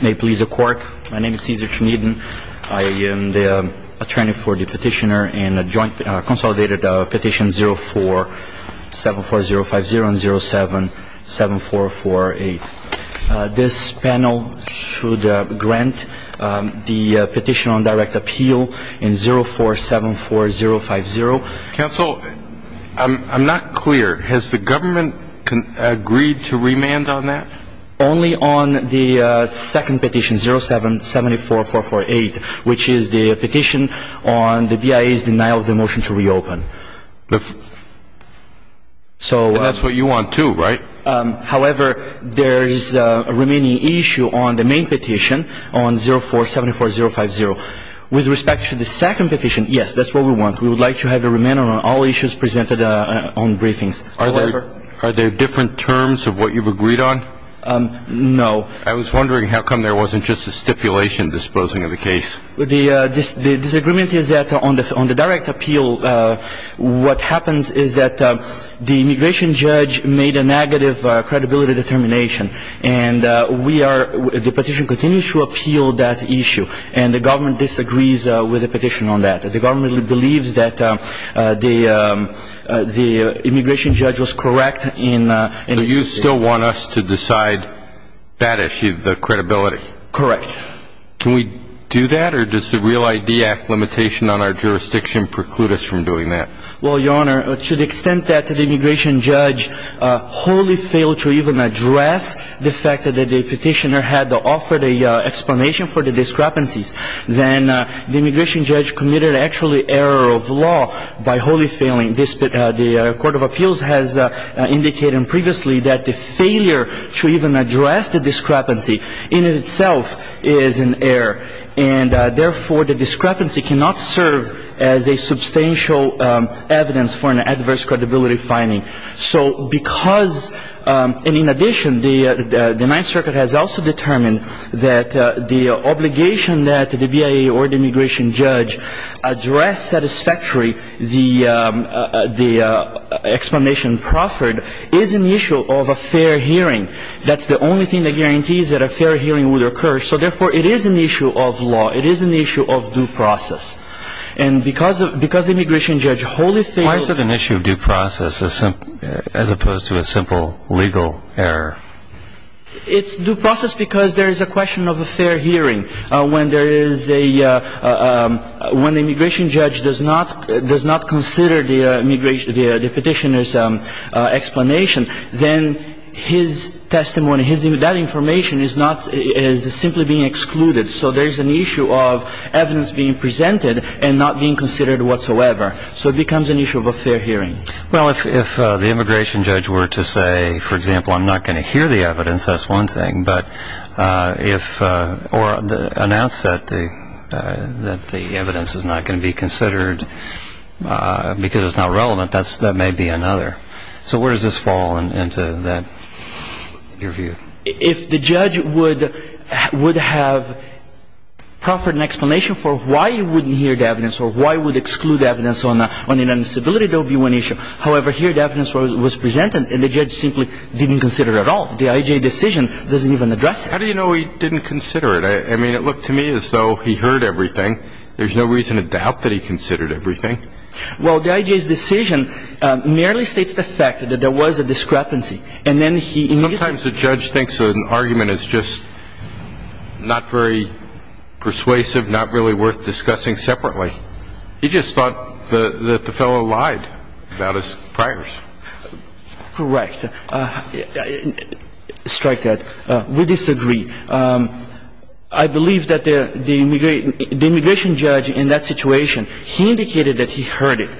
May it please the court, my name is Cesar Trinidin. I am the attorney for the petitioner in a joint consolidated petition 0474050 and 077448. This panel should grant the petition on direct appeal in 0474050. Counsel, I'm not clear. Has the government agreed to remand on that? Only on the second petition, 077448, which is the petition on the BIA's denial of the motion to reopen. And that's what you want too, right? However, there is a remaining issue on the main petition on 0474050. With respect to the second petition, yes, that's what we want. We would like to have a remand on all issues presented on briefings. Are there different terms of what you've agreed on? No. I was wondering how come there wasn't just a stipulation disposing of the case? The disagreement is that on the direct appeal, what happens is that the immigration judge made a negative credibility determination. And we are, the petition continues to appeal that issue. And the government disagrees with the petition on that. The government believes that the immigration judge was correct in Do you still want us to decide that issue, the credibility? Correct. Can we do that? Or does the Real ID Act limitation on our jurisdiction preclude us from doing that? Well, Your Honor, to the extent that the immigration judge wholly failed to even address the fact that the petitioner had offered an explanation for the discrepancies, then the immigration judge committed actually error of law by wholly failing. The Court of Appeals has indicated previously that the failure to even address the discrepancy in itself is an error. And therefore, the discrepancy cannot serve as a substantial evidence for an adverse credibility finding. So because, and in addition, the Ninth Circuit has also determined that the obligation that the BIA or the immigration judge address satisfactorily the explanation proffered is an issue of a fair hearing. That's the only thing that guarantees that a fair hearing would occur. So therefore, it is an issue of law. It is an issue of due process. And because the immigration judge wholly failed as opposed to a simple legal error? It's due process because there is a question of a fair hearing. When there is a, when the immigration judge does not consider the petitioner's explanation, then his testimony, that information is simply being excluded. So there is an issue of evidence being presented and not being considered whatsoever. So it becomes an issue of a fair hearing. Well, if the immigration judge were to say, for example, I'm not going to hear the evidence, that's one thing. But if, or announce that the evidence is not going to be considered because it's not relevant, that may be another. So where does this fall into that, your view? If the judge would have proffered an explanation for why he wouldn't hear the evidence or why he would exclude the evidence on an indisability, that would be one issue. However, here the evidence was presented and the judge simply didn't consider it at all. The IJ decision doesn't even address it. How do you know he didn't consider it? I mean, it looked to me as though he heard everything. There's no reason to doubt that he considered everything. Well, the IJ's decision merely states the fact that there was a discrepancy. And then he needed to I mean, the judge thinks an argument is just not very persuasive, not really worth discussing separately. He just thought that the fellow lied about his priors. Correct. Strike that. We disagree. I believe that the immigration judge in that situation, he indicated that he heard it.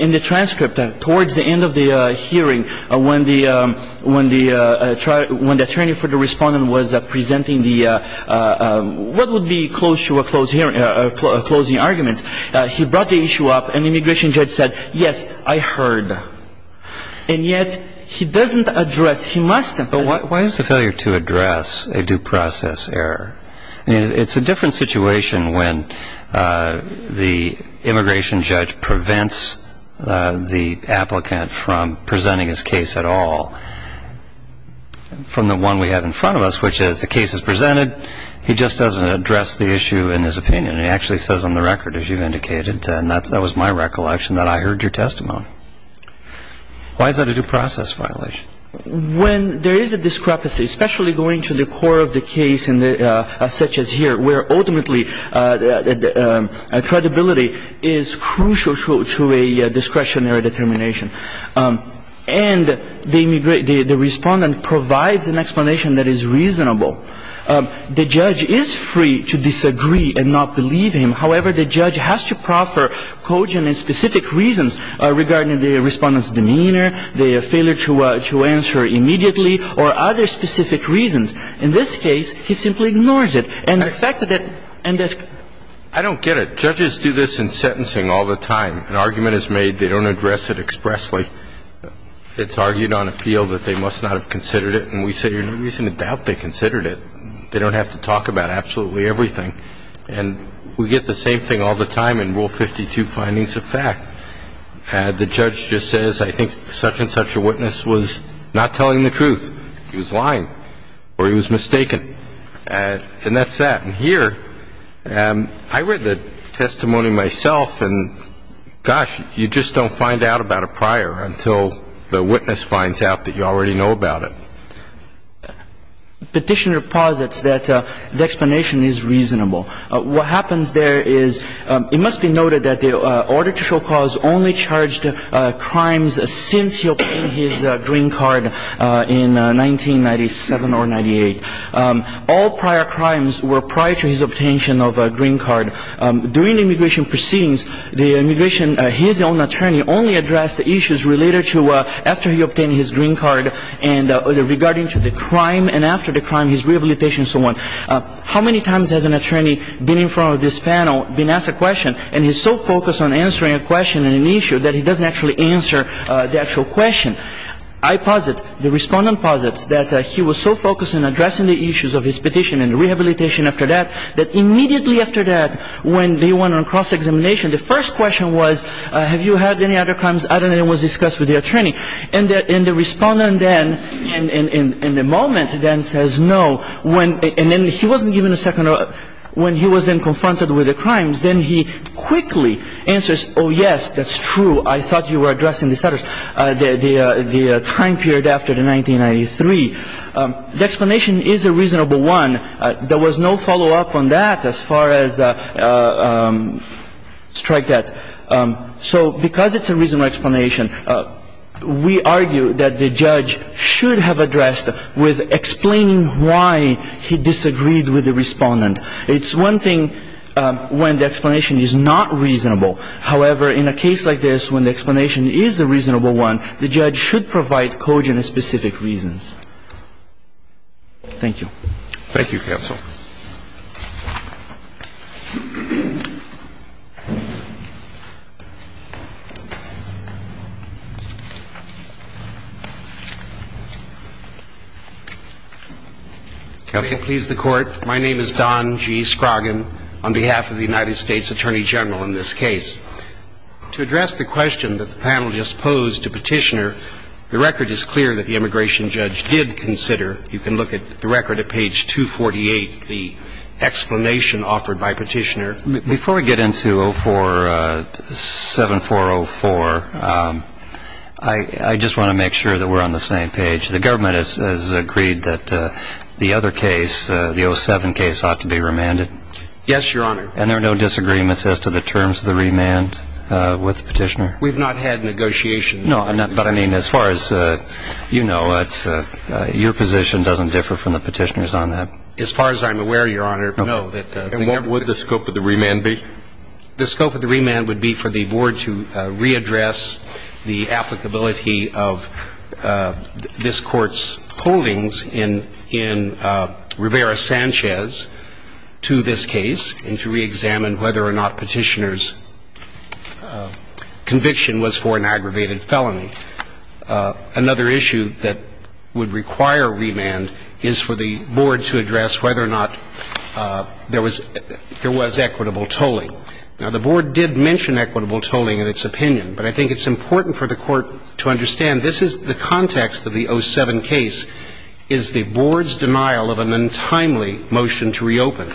In the transcript, towards the end of the hearing, when the attorney for the respondent was presenting the what would be close to a closing argument, he brought the issue up and the immigration judge said, yes, I heard. And yet he doesn't address, he must have. But why is the failure to address a due process error? It's a different situation when the immigration judge prevents the applicant from presenting his case at all. From the one we have in front of us, which is the case is presented. He just doesn't address the issue in his opinion. He actually says on the record, as you've indicated, and that was my recollection, that I heard your testimony. Why is that a due process violation? When there is a discrepancy, especially going to the core of the case such as here, where ultimately credibility is crucial to a discretionary determination. And the respondent provides an explanation that is reasonable. The judge is free to disagree and not believe him. However, the judge has to proffer cogent and specific reasons regarding the respondent's demeanor, the failure to answer immediately, or other specific reasons. In this case, he simply ignores it. And the fact that that and that's I don't get it. Judges do this in sentencing all the time. An argument is made. They don't address it expressly. It's argued on appeal that they must not have considered it. And we say there's no reason to doubt they considered it. They don't have to talk about absolutely everything. And we get the same thing all the time in Rule 52, findings of fact. The judge just says, I think such and such a witness was not telling the truth. He was lying or he was mistaken. And that's that. And here, I read the testimony myself, and gosh, you just don't find out about a prior until the witness finds out that you already know about it. Petitioner posits that the explanation is reasonable. What happens there is it must be noted that the order to show cause only charged crimes since he obtained his green card in 1997 or 98. All prior crimes were prior to his obtention of a green card. During the immigration proceedings, the immigration, his own attorney only addressed the issues related to after he obtained his green card and regarding to the crime and after the crime, his rehabilitation and so on. How many times has an attorney been in front of this panel, been asked a question, and he's so focused on answering a question and an issue that he doesn't actually answer the actual question? I posit, the respondent posits, that he was so focused on addressing the issues of his petition and rehabilitation after that, that immediately after that, when they went on cross-examination, the first question was, have you had any other crimes? I don't know. It was discussed with the attorney. And the respondent then, in the moment, then says no. And then he wasn't given a second thought. When he was then confronted with the crimes, then he quickly answers, oh, yes, that's true. I thought you were addressing this other, the time period after the 1993. The explanation is a reasonable one. There was no follow-up on that as far as strike that. So because it's a reasonable explanation, we argue that the judge should have addressed with explaining why he disagreed with the respondent. It's one thing when the explanation is not reasonable. However, in a case like this, when the explanation is a reasonable one, the judge should provide cogent and specific reasons. Thank you. Thank you, Counsel. Counsel, please, the Court. My name is Don G. Scroggin on behalf of the United States Attorney General in this case. To address the question that the panel just posed to Petitioner, the record is clear that the immigration judge did consider, you can look at the record at page 248, the explanation offered by Petitioner. Before we get into 047404, I just want to make sure that we're on the same page. The government has agreed that the other case, the 07 case, ought to be remanded. Yes, Your Honor. And there are no disagreements as to the terms of the remand with Petitioner? We've not had negotiations. No, but I mean, as far as you know, your position doesn't differ from the Petitioner's on that. As far as I'm aware, Your Honor, no. And what would the scope of the remand be? The scope of the remand would be for the Board to readdress the applicability of this Court's holdings in Rivera-Sanchez to this case and to reexamine whether or not Petitioner's conviction was for an aggravated felony. Another issue that would require remand is for the Board to address whether or not there was equitable tolling. Now, the Board did mention equitable tolling in its opinion, but I think it's important for the Court to understand this is the context of the 07 case is the Board's denial of an untimely motion to reopen.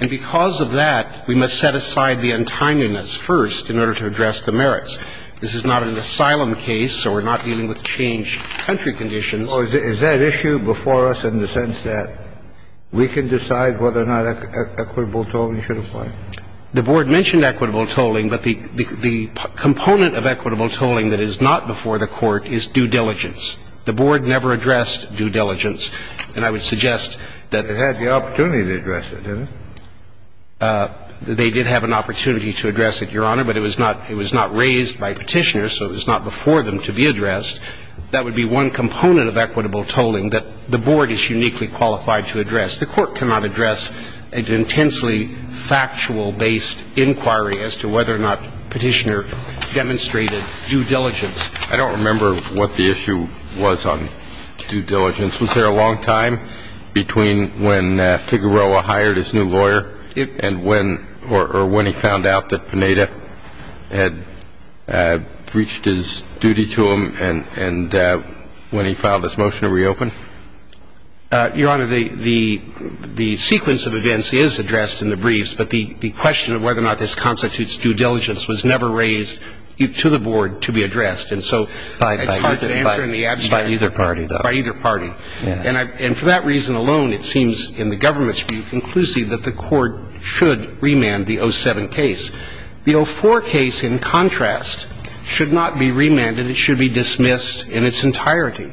And because of that, we must set aside the untimeliness first in order to address the merits. This is not an asylum case, so we're not dealing with changed country conditions. Is that issue before us in the sense that we can decide whether or not equitable tolling should apply? The Board mentioned equitable tolling, but the component of equitable tolling that is not before the Court is due diligence. The Board never addressed due diligence. And I would suggest that the Board had the opportunity to address it, didn't it? They did have an opportunity to address it, Your Honor. But it was not raised by Petitioner, so it was not before them to be addressed. That would be one component of equitable tolling that the Board is uniquely qualified to address. The Court cannot address an intensely factual-based inquiry as to whether or not Petitioner demonstrated due diligence. I don't remember what the issue was on due diligence. Was there a long time between when Figueroa hired his new lawyer and when or when he found out that Pineda had breached his duty to him and when he filed his motion to reopen? Your Honor, the sequence of events is addressed in the briefs, but the question of whether or not this constitutes due diligence was never raised to the Board to be addressed. And so it's hard to answer in the abstract. By either party, though. By either party. And for that reason alone, it seems in the government's view conclusive that the Court should remand the 07 case. The 04 case, in contrast, should not be remanded. It should be dismissed in its entirety.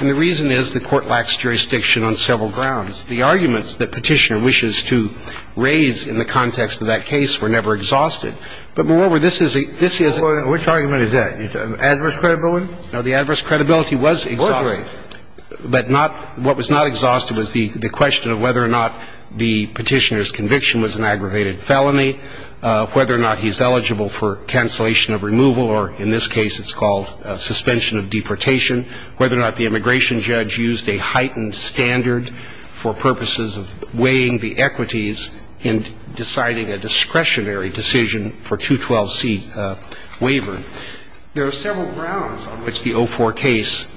And the reason is the Court lacks jurisdiction on several grounds. The arguments that Petitioner wishes to raise in the context of that case were never exhausted. But moreover, this is a – this is a – Which argument is that? Adverse credibility? No, the adverse credibility was exhausted. I'll agree. But not – what was not exhausted was the question of whether or not the Petitioner's conviction was an aggravated felony, whether or not he's eligible for cancellation of removal, or in this case it's called suspension of deportation, whether or not the immigration judge used a heightened standard for purposes of weighing the equities in deciding a discretionary decision for 212C waiver. There are several grounds on which the 04 case –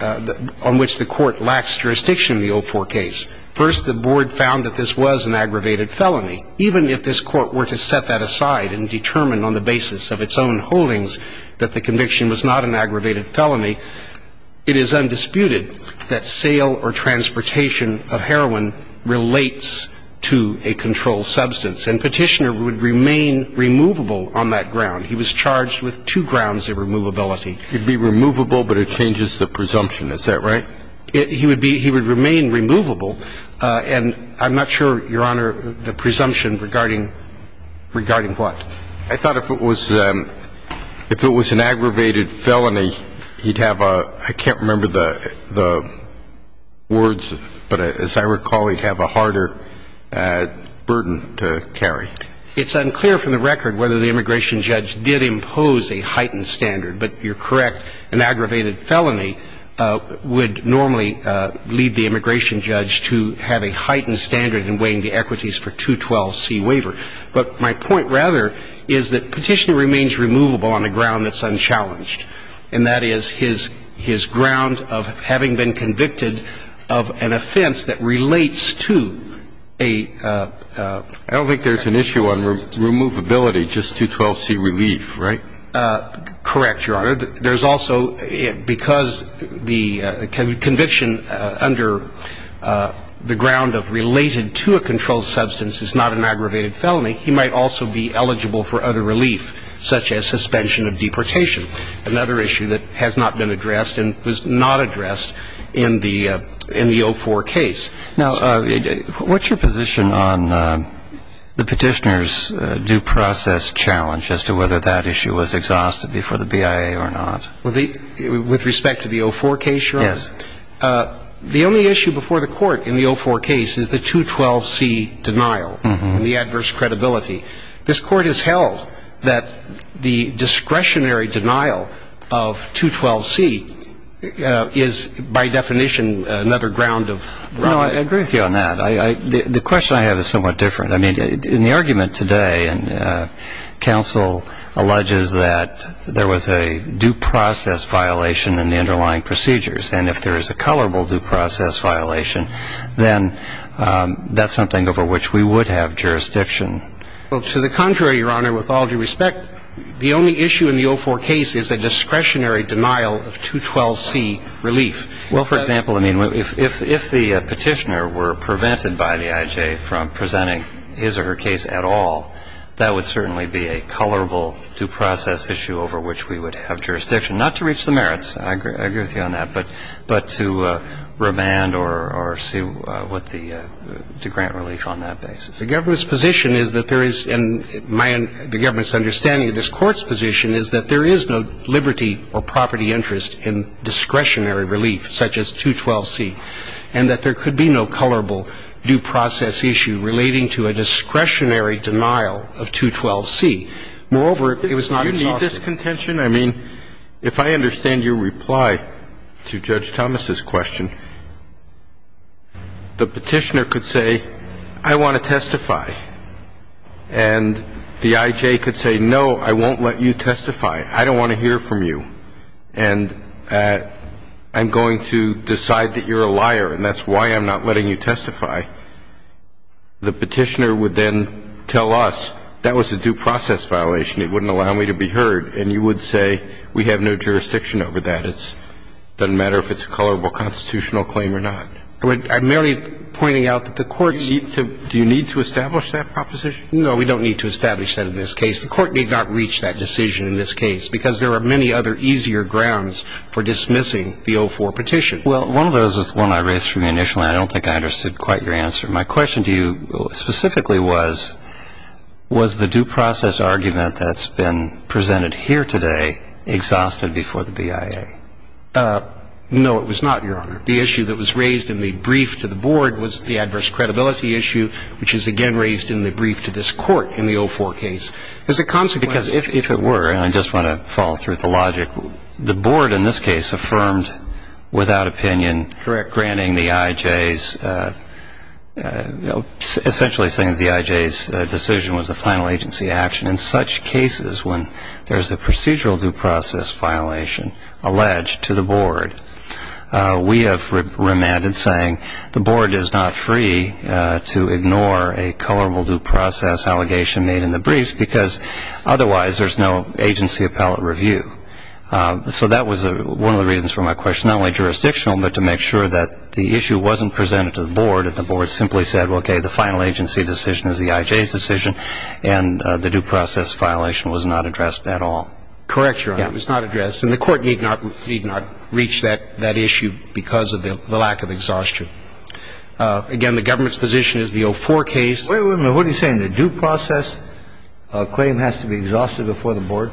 on which the Court lacks jurisdiction in the 04 case. First, the Board found that this was an aggravated felony. Even if this Court were to set that aside and determine on the basis of its own holdings that the conviction was not an aggravated felony, it is undisputed that sale or transportation of heroin relates to a controlled substance. And Petitioner would remain removable on that ground. He was charged with two grounds of removability. He'd be removable, but it changes the presumption. Is that right? He would be – he would remain removable. And I'm not sure, Your Honor, the presumption regarding – regarding what? I thought if it was – if it was an aggravated felony, he'd have a – I can't remember the words, but as I recall, he'd have a harder burden to carry. It's unclear from the record whether the immigration judge did impose a heightened standard, but you're correct. An aggravated felony would normally lead the immigration judge to have a heightened standard in weighing the equities for 212C waiver. But my point, rather, is that Petitioner remains removable on a ground that's unchallenged, and that is his – his ground of having been convicted of an offense that relates to a – I don't think there's an issue on removability, just 212C relief, right? Correct, Your Honor. There's also – because the conviction under the ground of related to a controlled substance is not an aggravated felony, he might also be eligible for other relief, such as suspension of deportation, another issue that has not been addressed and was not addressed in the – in the 04 case. Now, what's your position on the Petitioner's due process challenge as to whether that issue was exhausted before the BIA or not? Well, the – with respect to the 04 case, Your Honor? Yes. The only issue before the Court in the 04 case is the 212C denial and the adverse credibility. This Court has held that the discretionary denial of 212C is, by definition, another ground of – No, I agree with you on that. I – the question I have is somewhat different. I mean, in the argument today, and counsel alleges that there was a due process violation in the underlying procedures, and if there is a colorable due process violation, then that's something over which we would have jurisdiction. Well, to the contrary, Your Honor, with all due respect, the only issue in the 04 case is a discretionary denial of 212C relief. Well, for example, I mean, if the Petitioner were prevented by the I.J. from presenting his or her case at all, that would certainly be a colorable due process issue over which we would have jurisdiction, not to reach the merits – I agree with you on that – but to remand or see what the – to grant relief on that basis. The government's position is that there is – and my – the government's understanding of this Court's position is that there is no liberty or property interest in discretionary relief such as 212C, and that there could be no colorable due process issue relating to a discretionary denial of 212C. Moreover, it was not exhaustive. Do you need this contention? I mean, if I understand your reply to Judge Thomas's question, the Petitioner could say, I want to testify, and the I.J. could say, no, I won't let you testify. I don't want to hear from you, and I'm going to decide that you're a liar, and that's why I'm not letting you testify. The Petitioner would then tell us, that was a due process violation. It wouldn't allow me to be heard. And you would say, we have no jurisdiction over that. It doesn't matter if it's a colorable constitutional claim or not. I'm merely pointing out that the Court's – Do you need to establish that proposition? No, we don't need to establish that in this case. The Court did not reach that decision in this case because there are many other easier grounds for dismissing the 04 petition. Well, one of those was the one I raised to you initially. I don't think I understood quite your answer. My question to you specifically was, was the due process argument that's been presented here today exhausted before the BIA? No, it was not, Your Honor. The issue that was raised in the brief to the Board was the adverse credibility issue, which is again raised in the brief to this Court in the 04 case. As a consequence – Because if it were, and I just want to follow through with the logic, the Board in this case affirmed without opinion granting the IJ's – essentially saying that the IJ's decision was a final agency action in such cases when there's a procedural due process violation alleged to the Board. We have remanded saying the Board is not free to ignore a colorable due process allegation made in the briefs because otherwise there's no agency appellate review. So that was one of the reasons for my question, not only jurisdictional, but to make sure that the issue wasn't presented to the Board, and the Board simply said, okay, the final agency decision is the IJ's decision, and the due process violation was not addressed at all. Correct, Your Honor. It was not addressed, and the Court need not reach that issue because of the lack of exhaustion. Again, the government's position is the 04 case – Wait a minute. What are you saying? The due process claim has to be exhausted before the Board?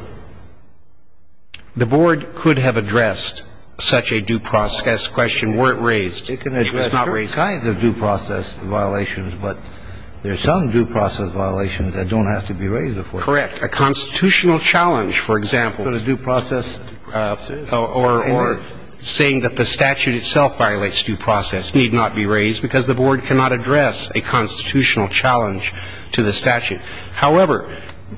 The Board could have addressed such a due process question were it raised. It could have addressed all kinds of due process violations, but there are some due process violations that don't have to be raised before the Board. Correct. A constitutional challenge, for example – But a due process – Or saying that the statute itself violates due process need not be raised because the Board cannot address a constitutional challenge to the statute. However,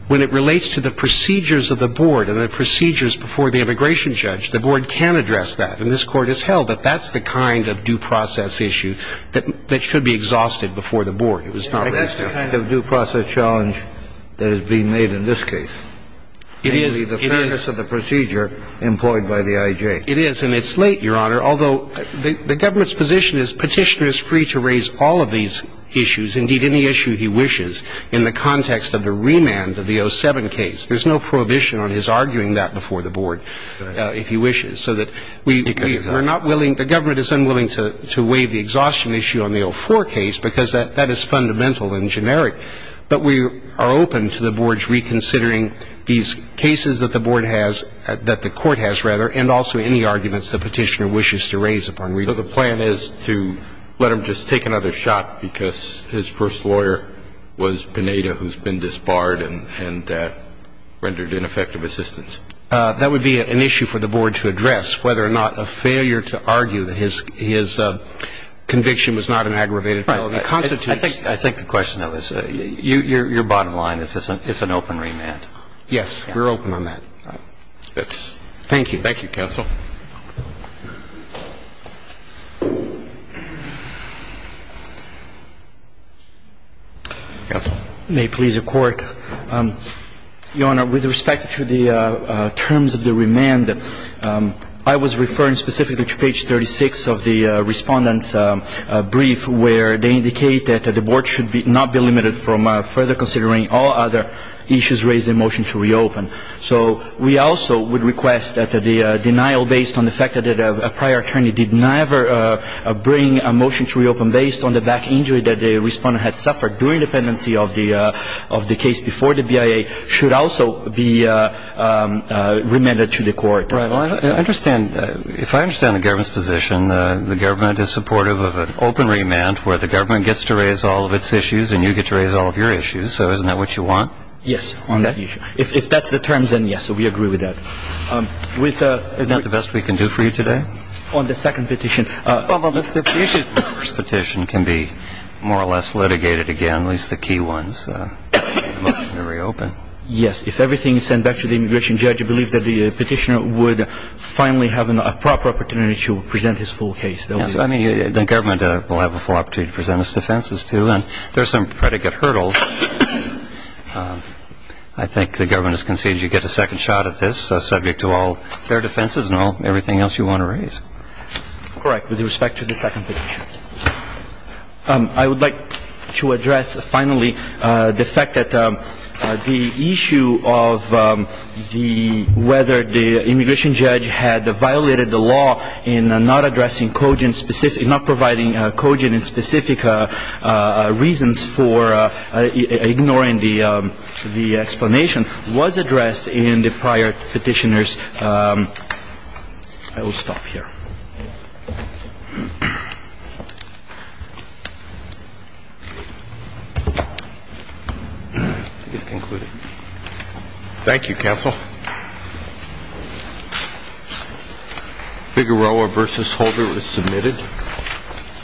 when it relates to the procedures of the Board and the procedures before the immigration judge, the Board can address that, and this Court has held that that's the kind of due process issue that should be exhausted before the Board. It was not raised. I think that's the kind of due process challenge that is being made in this case. It is. Namely, the fairness of the procedure employed by the IJ. It is, and it's late, Your Honor, The Government's position is Petitioner is free to raise all of these issues, indeed any issue he wishes, in the context of the remand of the 07 case. There's no prohibition on his arguing that before the Board if he wishes. So that we're not willing – The Government is unwilling to waive the exhaustion issue on the 04 case because that is fundamental and generic, but we are open to the Board's reconsidering and also any arguments the Petitioner wishes to raise upon review. So the plan is to let him just take another shot because his first lawyer was Pineda, who's been disbarred and rendered ineffective assistance. That would be an issue for the Board to address, whether or not a failure to argue that his conviction was not an aggravated felony constitutes – Right. I think the question that was – your bottom line is it's an open remand. Yes. We're open on that. Right. Thank you. Thank you, Counsel. Counsel. May it please the Court. Your Honor, with respect to the terms of the remand, I was referring specifically to page 36 of the Respondent's brief, where they indicate that the Board should not be limited from further considering all other issues raised in the motion to reopen. So we also would request that the denial based on the fact that a prior attorney did never bring a motion to reopen based on the back injury that the Respondent had suffered during the pendency of the case before the BIA should also be remanded to the Court. Right. Well, I understand – if I understand the Government's position, the Government is supportive of an open remand where the Government gets to raise all of its issues and you get to raise all of your issues, so isn't that what you want? Yes, on that issue. If that's the terms, then yes, we agree with that. Isn't that the best we can do for you today? On the second petition. Well, the first petition can be more or less litigated again, at least the key ones in the motion to reopen. Yes. If everything is sent back to the immigration judge, I believe that the petitioner would finally have a proper opportunity to present his full case. I mean, the Government will have a full opportunity to present its defenses too, and there are some predicate hurdles. I think the Government has conceded you get a second shot at this, subject to all their defenses and everything else you want to raise. Correct, with respect to the second petition. I would like to address finally the fact that the issue of whether the immigration judge had violated the law in not addressing cogent specific, not providing cogent and specific reasons for ignoring the explanation was addressed in the prior petitioners. I will stop here. I think it's concluded. Thank you, counsel. Figueroa v. Holder is submitted.